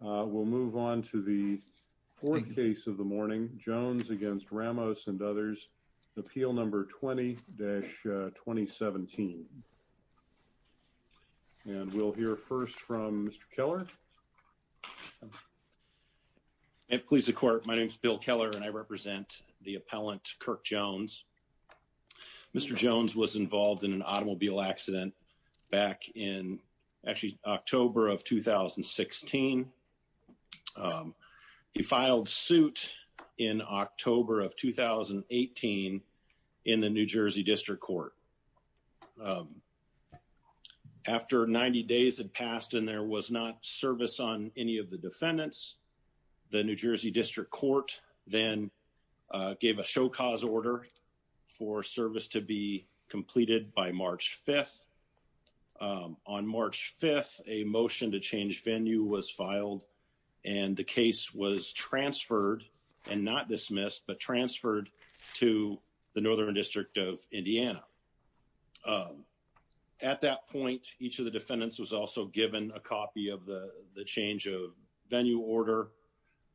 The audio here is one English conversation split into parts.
We'll move on to the fourth case of the morning, Jones against Ramos and others, Appeal Number 20-2017. And we'll hear first from Mr. Keller. It please the court. My name is Bill Keller and I represent the appellant Kirk Jones. Mr. Jones was involved in an automobile accident back in actually October of 2016. He filed suit in October of 2018 in the New Jersey District Court. After 90 days had passed and there was not service on any of the defendants, the New Jersey District Court then gave a show cause order for service to be completed by March 5th. On March 5th, a motion to change venue was filed and the case was transferred and not dismissed, but transferred to the Northern District of Indiana. At that point, each of the defendants was also given a copy of the change of venue order.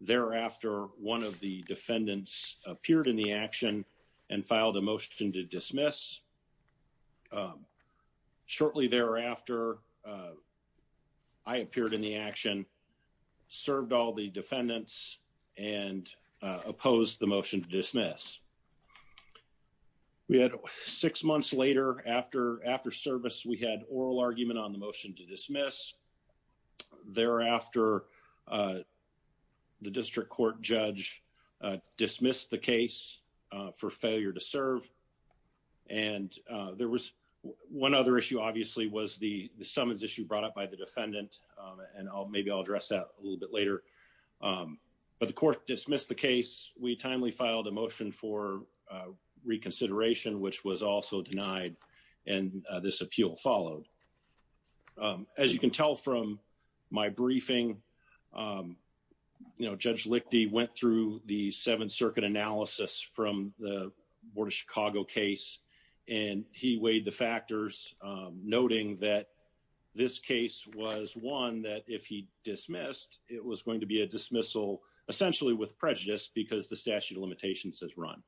Thereafter, one of the defendants appeared in the action and filed a motion to dismiss. Shortly thereafter, I appeared in the action, served all the defendants and opposed the motion to dismiss. We had six months later after service, we had oral argument on the motion to dismiss. Thereafter, the district court judge dismissed the case for failure to serve. And there was one other issue obviously was the summons issue brought up by the defendant and maybe I'll address that a little bit later. But the court dismissed the case. We timely filed a motion for reconsideration, which was also denied and this appeal followed. As you can tell from my briefing, Judge Lichty went through the Seventh Circuit analysis from the Board of Chicago case and he weighed the factors, noting that this case was one that if he dismissed, it was going to be a dismissal essentially with prejudice because the statute of limitations has run.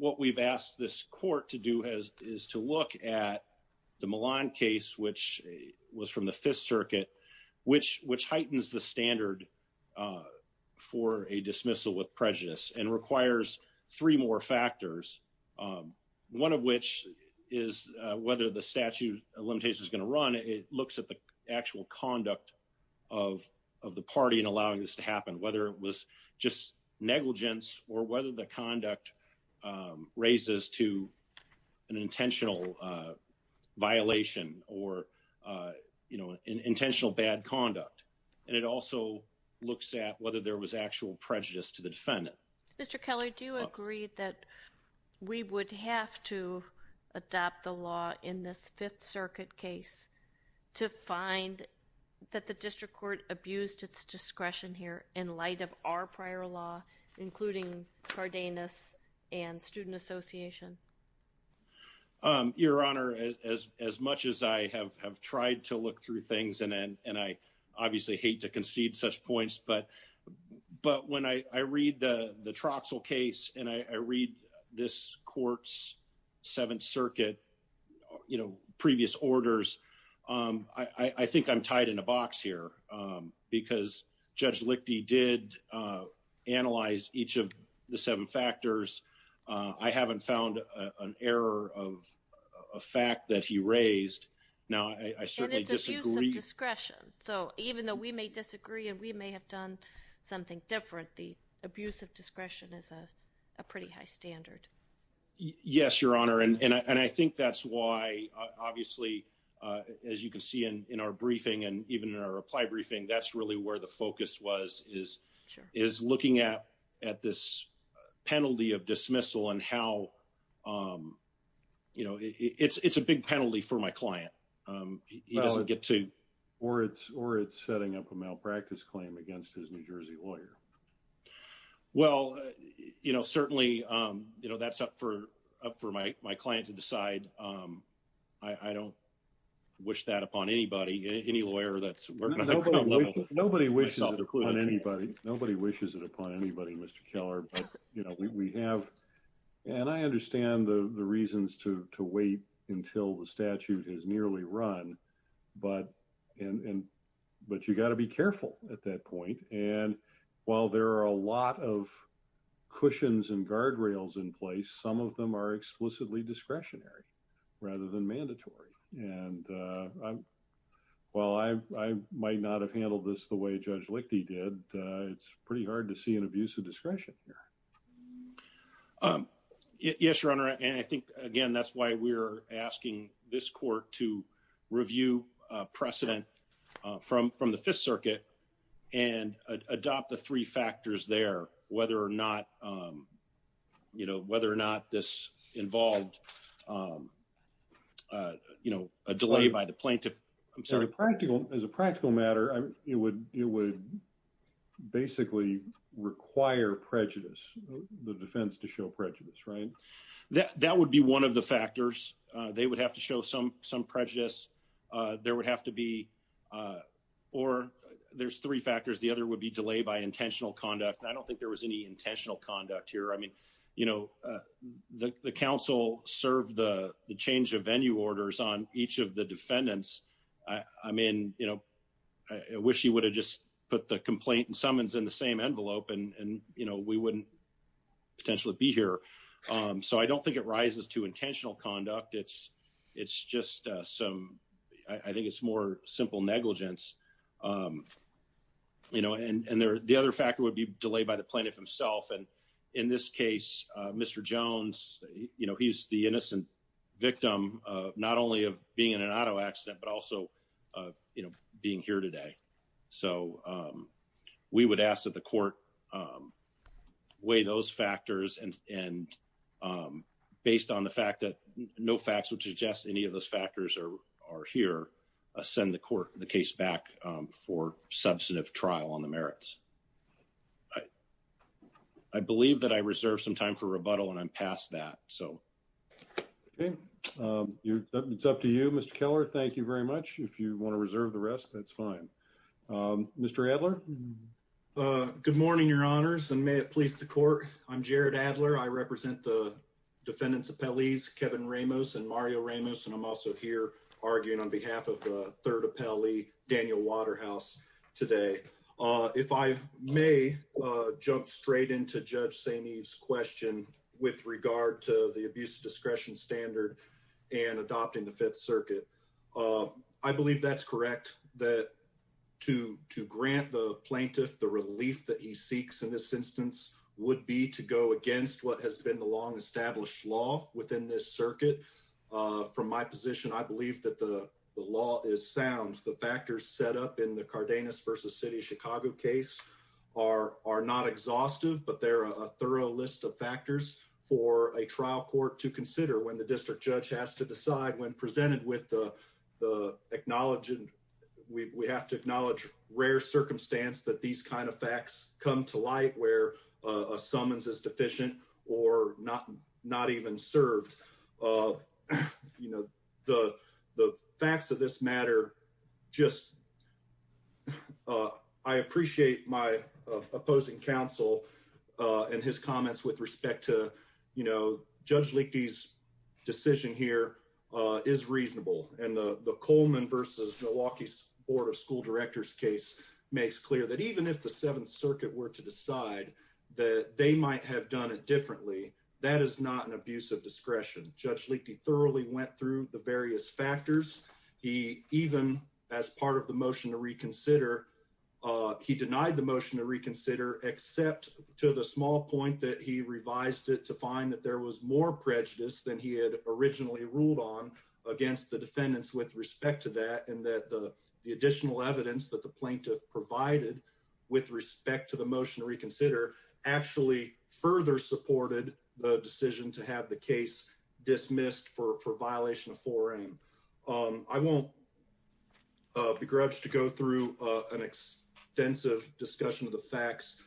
What we've asked this court to do is to look at the Milan case, which was from the Fifth Circuit, which heightens the standard for a dismissal with prejudice and requires three more factors. One of which is whether the statute of limitations is gonna run, it looks at the actual conduct of the party and allowing this to happen, whether it was just negligence or whether the conduct raises to an intentional violation or intentional bad conduct. And it also looks at whether there was actual prejudice to the defendant. Mr. Keller, do you agree that we would have to adopt the law in this Fifth Circuit case to find that the district court abused its discretion here in light of our prior law, including Cardenas and Student Association? Your Honor, as much as I have tried to look through things and I obviously hate to concede such points, but when I read the Troxel case and I read this court's Seventh Circuit previous orders, I think I'm tied in a box here because Judge Lichty did analyze each of the seven factors. I haven't found an error of a fact that he raised. Now, I certainly disagree. And it's abuse of discretion. So even though we may disagree and we may have done something different, the abuse of discretion is a pretty high standard. Yes, Your Honor. And I think that's why, obviously, as you can see in our briefing and even in our reply briefing, that's really where the focus was, is looking at this penalty of dismissal and how, it's a big penalty for my client. He doesn't get to- Or it's setting up a malpractice claim against his New Jersey lawyer. Well, certainly, that's up for my client to decide. I don't wish that upon anybody, any lawyer that's working on a criminal case. Nobody wishes it upon anybody, Mr. Keller. But we have, and I understand the reasons to wait until the statute is nearly run, but you gotta be careful at that point. And while there are a lot of cushions and guardrails in place, some of them are explicitly discretionary rather than mandatory. And while I might not have handled this the way Judge Lichty did, it's pretty hard to see an abuse of discretion here. Yes, Your Honor. And I think, again, that's why we're asking this court to review precedent from the Fifth Circuit and adopt the three factors there, whether or not this involved a delay by the plaintiff. I'm sorry. As a practical matter, it would basically require prejudice, the defense to show prejudice, right? That would be one of the factors. They would have to show some prejudice. There would have to be, or there's three factors. The other would be delay by intentional conduct. I don't think there was any intentional conduct here. I mean, the counsel served the change of venue orders on each of the defendants. I mean, I wish he would have just put the complaint and summons in the same envelope and we wouldn't potentially be here. So I don't think it rises to intentional conduct. It's just some, I think it's more simple negligence. And the other factor would be delay by the plaintiff himself and in this case, Mr. Jones, he's the innocent victim not only of being in an auto accident, but also being here today. So we would ask that the court weigh those factors and based on the fact that no facts would suggest any of those factors are here, send the court the case back for substantive trial on the merits. I believe that I reserve some time for rebuttal and I'm past that, so. Okay, it's up to you, Mr. Keller. Thank you very much. If you want to reserve the rest, that's fine. Mr. Adler. Good morning, your honors and may it please the court. I'm Jared Adler. I represent the defendant's appellees, Kevin Ramos and Mario Ramos. And I'm also here arguing on behalf of the third appellee, Daniel Waterhouse today. If I may jump straight into Judge Saineev's question with regard to the abuse of discretion standard and adopting the Fifth Circuit, I believe that's correct that to grant the plaintiff the relief that he seeks in this instance would be to go against what has been the long established law within this circuit. From my position, I believe that the law is sound. The factors set up in the Cardenas versus City of Chicago case are not exhaustive, but they're a thorough list of factors for a trial court to consider when the district judge has to decide when presented with the acknowledging, we have to acknowledge rare circumstance that these kinds of facts come to light where a summons is deficient or not even served. The facts of this matter just, I appreciate my opposing counsel and his comments with respect to Judge Leakey's decision here is reasonable. And the Coleman versus Milwaukee Board of School Directors case makes clear that even if the Seventh Circuit were to decide that they might have done it differently, that is not an abuse of discretion. Judge Leakey thoroughly went through the various factors. He even as part of the motion to reconsider, he denied the motion to reconsider except to the small point that he revised it to find that there was more prejudice than he had originally ruled on against the defendants with respect to that and that the additional evidence that the plaintiff provided with respect to the motion to reconsider actually further supported the decision to have the case dismissed for violation of four M. I won't begrudge to go through an extensive discussion of the facts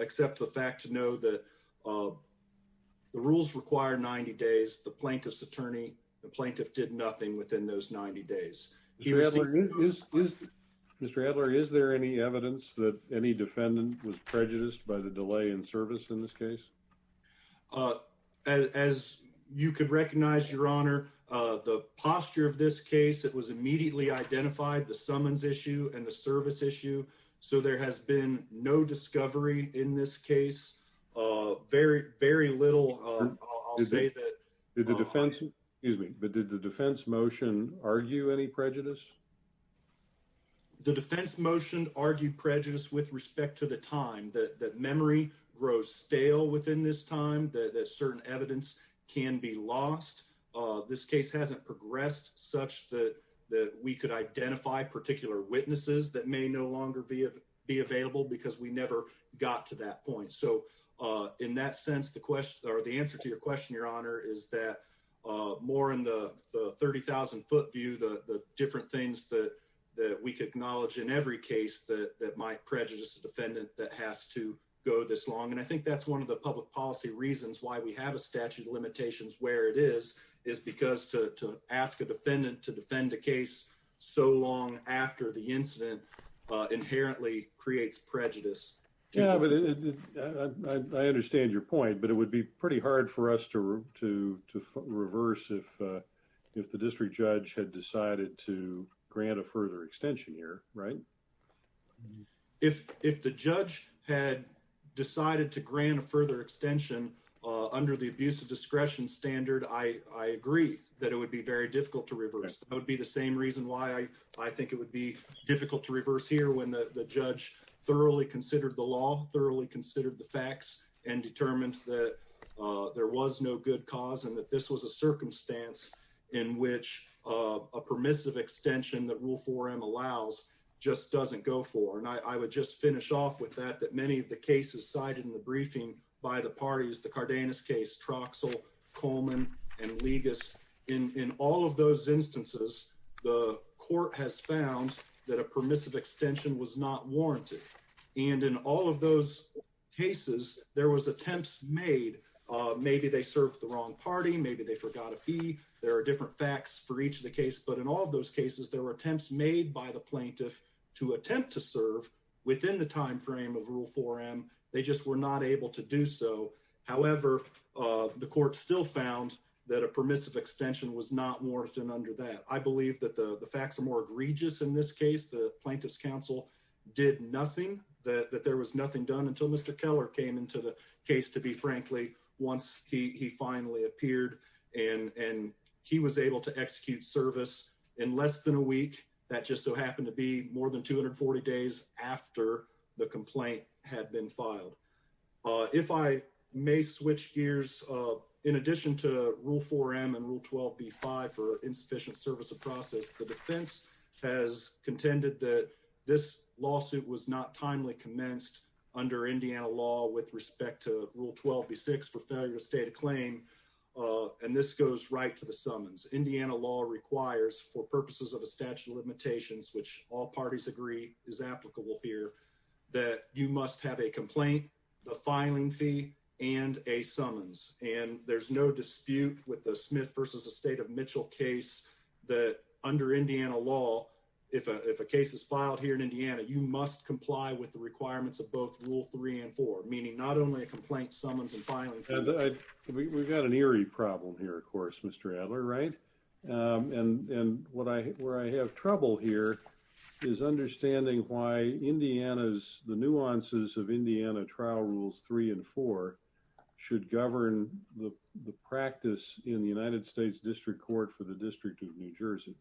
except the fact to know that the rules require 90 days, the plaintiff's attorney, the plaintiff did nothing within those 90 days. He was- Mr. Adler, is there any evidence that any defendant was prejudiced by the delay in service in this case? As you could recognize, your honor, the posture of this case, it was immediately identified the summons issue and the service issue. So there has been no discovery in this case. Very, very little, I'll say that- Did the defense, excuse me, but did the defense motion argue any prejudice? The defense motion argued prejudice with respect to the time, that memory grows stale within this time, that certain evidence can be lost. This case hasn't progressed such that we could identify particular witnesses that may no longer be available because we never got to that point. So in that sense, the question, or the answer to your question, your honor, is that more in the 30,000 foot view, the different things that we could acknowledge in every case that might prejudice a defendant that has to go this long. And I think that's one of the public policy reasons why we have a statute of limitations where it is, is because to ask a defendant to defend a case so long after the incident inherently creates prejudice. Yeah, but I understand your point, but it would be pretty hard for us to reverse if the district judge had decided to grant a further extension here, right? If the judge had decided to grant a further extension under the abuse of discretion standard, I agree that it would be very difficult to reverse. That would be the same reason why I think it would be difficult to reverse here when the judge thoroughly considered the law, thoroughly considered the facts and determined that there was no good cause and that this was a circumstance in which a permissive extension that Rule 4M allows just doesn't go for. And I would just finish off with that, that many of the cases cited in the briefing by the parties, the Cardenas case, Troxell, Coleman, and Legas, in all of those instances, the court has found that a permissive extension was not warranted. And in all of those cases, there was attempts made. Maybe they served the wrong party. Maybe they forgot a fee. There are different facts for each of the cases, but in all of those cases, there were attempts made by the plaintiff to attempt to serve within the timeframe of Rule 4M. They just were not able to do so. However, the court still found that a permissive extension was not warranted under that. I believe that the facts are more egregious in this case. The plaintiff's counsel did nothing, that there was nothing done until Mr. Keller came into the case, to be frankly, once he finally appeared and he was able to execute service in less than a week. That just so happened to be more than 240 days after the complaint had been filed. If I may switch gears, in addition to Rule 4M and Rule 12b-5 for insufficient service of process, the defense has contended that this lawsuit was not timely commenced under Indiana law with respect to Rule 12b-6 for failure to state a claim. And this goes right to the summons. Indiana law requires, for purposes of a statute of limitations, which all parties agree is applicable here, that you must have a complaint, the filing fee, and a summons. And there's no dispute with the Smith versus the State of Mitchell case that under Indiana law, if a case is filed here in Indiana, you must comply with the requirements of both Rule 3 and 4, meaning not only a complaint, summons, and filing fee. We've got an eerie problem here, of course, Mr. Adler, right? And where I have trouble here is understanding why Indiana's, the nuances of Indiana Trial Rules 3 and 4 should govern the practice in the United States District Court for the District of New Jersey.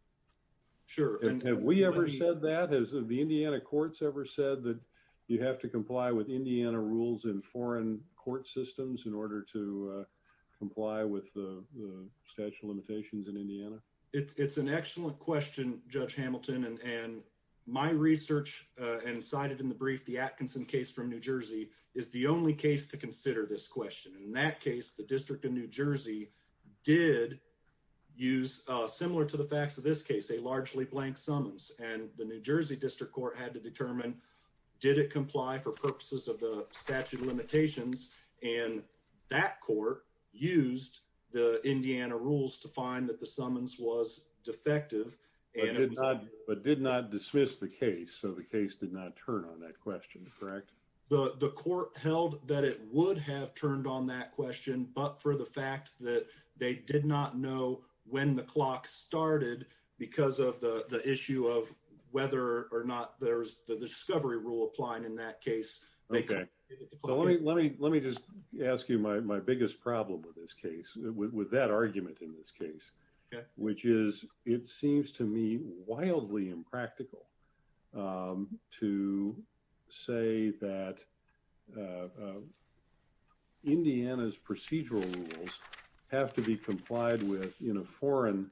Sure. And have we ever said that? Has the Indiana courts ever said that you have to comply with Indiana rules in foreign court systems in order to comply with the statute of limitations in Indiana? It's an excellent question, Judge Hamilton. And my research, and cited in the brief, the Atkinson case from New Jersey is the only case to consider this question. And in that case, the District of New Jersey did use, similar to the facts of this case, a largely blank summons. And the New Jersey District Court had to determine, did it comply for purposes of the statute of limitations? And that court used the Indiana rules to find that the summons was defective. But did not dismiss the case. So the case did not turn on that question, correct? The court held that it would have turned on that question but for the fact that they did not know when the clock started because of the issue of whether or not there's the discovery rule applying in that case. Okay, let me just ask you my biggest problem with this case, with that argument in this case, which is, it seems to me wildly impractical to say that Indiana's procedural rules have to be complied with in a foreign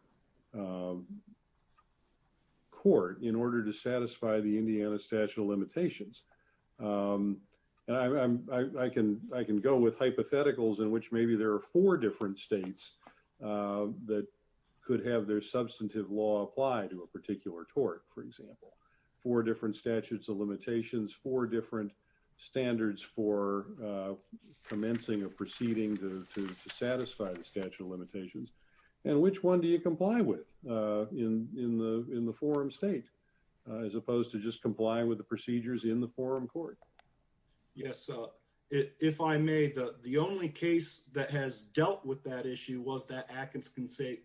court in order to satisfy the Indiana statute of limitations. And I can go with hypotheticals in which maybe there are four different states that could have their substantive law apply to a particular tort, for example. Four different statutes of limitations, four different standards for commencing or proceeding to satisfy the statute of limitations. And which one do you comply with in the forum state as opposed to just comply with the procedures in the forum court? Yes, if I may, the only case that has dealt with that issue was that Atkins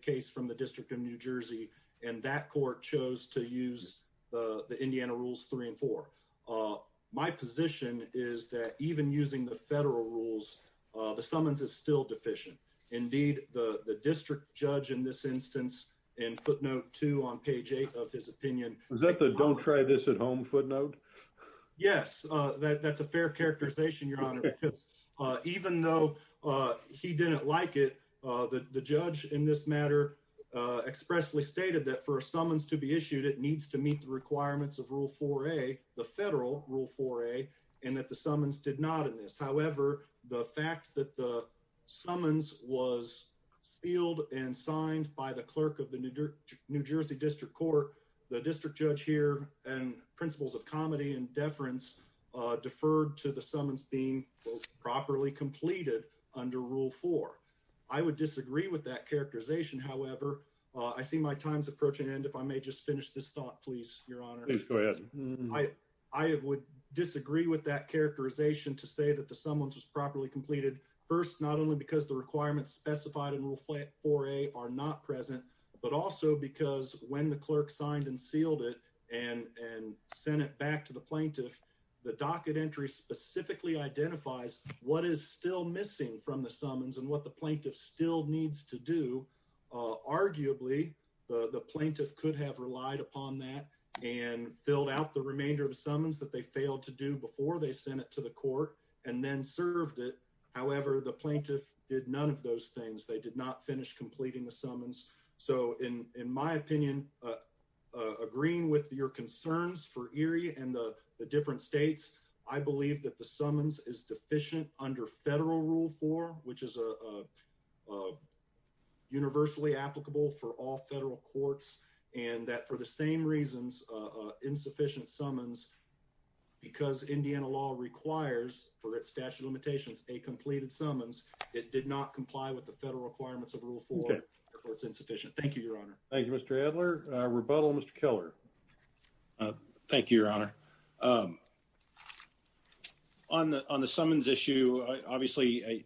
case from the district of New Jersey. And that court chose to use the Indiana rules three and four. My position is that even using the federal rules, the summons is still deficient. Indeed, the district judge in this instance, in footnote two on page eight of his opinion- Is that the don't try this at home footnote? Yes, that's a fair characterization, your honor. Even though he didn't like it, the judge in this matter expressly stated that for a summons to be issued, it needs to meet the requirements of rule 4A, the federal rule 4A, and that the summons did not in this. However, the fact that the summons was sealed and signed by the clerk of the New Jersey district court, the district judge here, and principles of comedy and deference deferred to the summons being properly completed under rule four. I would disagree with that characterization. However, I see my time's approaching end. If I may just finish this thought, please, your honor. Please go ahead. I would disagree with that characterization to say that the summons was properly completed. First, not only because the requirements specified in rule 4A are not present, but also because when the clerk signed and sealed it and sent it back to the plaintiff, the docket entry specifically identifies what is still missing from the summons and what the plaintiff still needs to do. Arguably, the plaintiff could have relied upon that and filled out the remainder of the summons that they failed to do before they sent it to the court and then served it. However, the plaintiff did none of those things. They did not finish completing the summons. So in my opinion, agreeing with your concerns for Erie and the different states, I believe that the summons is deficient under federal rule four, which is a universally applicable for all federal courts. And that for the same reasons, insufficient summons, because Indiana law requires, for its statute of limitations, a completed summons, it did not comply with the federal requirements of rule four, therefore it's insufficient. Thank you, your honor. Thank you, Mr. Adler. Rebuttal, Mr. Keller. Thank you, your honor. On the summons issue, obviously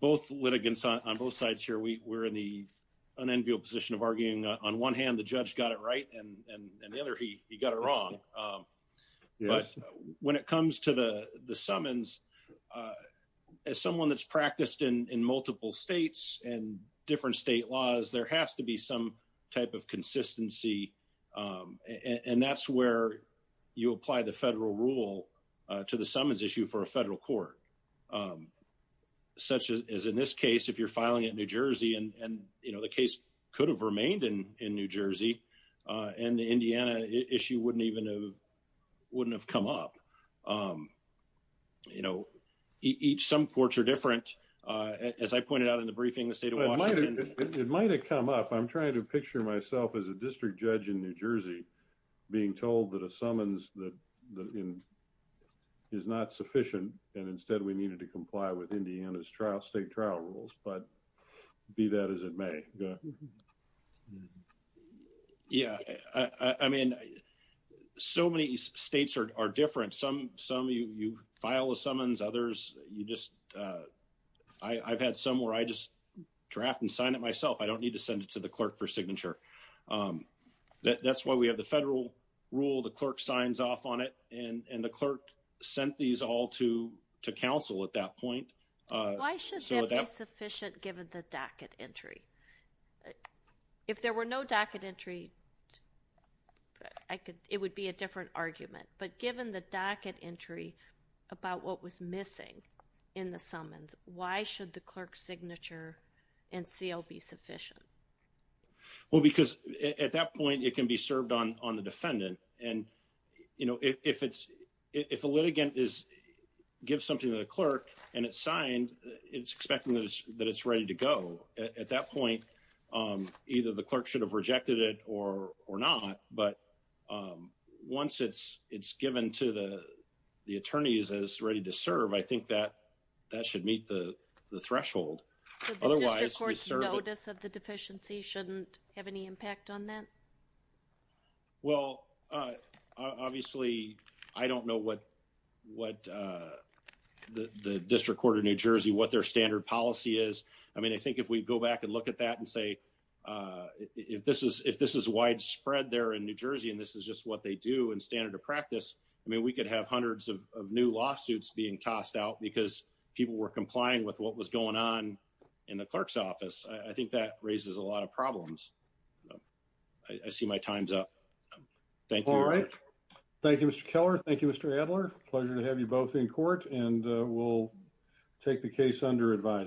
both litigants on both sides here, we're in the unenviable position of arguing on one hand, the judge got it right. And the other, he got it wrong. But when it comes to the summons, as someone that's practiced in multiple states and different state laws, there has to be some type of consistency. And that's where you apply the federal rule to the summons issue for a federal court, such as in this case, if you're filing in New Jersey, and the case could have remained in New Jersey, and the Indiana issue wouldn't have come up. Each, some courts are different. As I pointed out in the briefing, the state of Washington. It might've come up. I'm trying to picture myself as a district judge in New Jersey, being told that a summons is not sufficient. And instead we needed to comply with Indiana's state trial rules. But be that as it may. Yeah, I mean, so many states are different. Some you file a summons, others you just, I've had some where I just draft and sign it myself. I don't need to send it to the clerk for signature. That's why we have the federal rule. The clerk signs off on it. And the clerk sent these all to counsel at that point. Why should that be sufficient given the docket entry? If there were no docket entry, it would be a different argument. But given the docket entry about what was missing in the summons, why should the clerk's signature and seal be sufficient? Well, because at that point, it can be served on the defendant. And if a litigant gives something to the clerk, and it's signed, it's expecting that it's ready to go. At that point, either the clerk should have rejected it or not. But once it's given to the attorneys as ready to serve, I think that should meet the threshold. Otherwise, we serve it. So the district court's notice of the deficiency shouldn't have any impact on that? Well, obviously, I don't know what the district court of New Jersey, what their standard policy is. I mean, I think if we go back and look at that and say, if this is widespread there in New Jersey, and this is just what they do in standard of practice, I mean, we could have hundreds of new lawsuits being tossed out because people were complying with what was going on in the clerk's office. I think that raises a lot of problems. I see my time's up. Thank you. All right. Thank you, Mr. Keller. Thank you, Mr. Adler. Pleasure to have you both in court, and we'll take the case under advisory.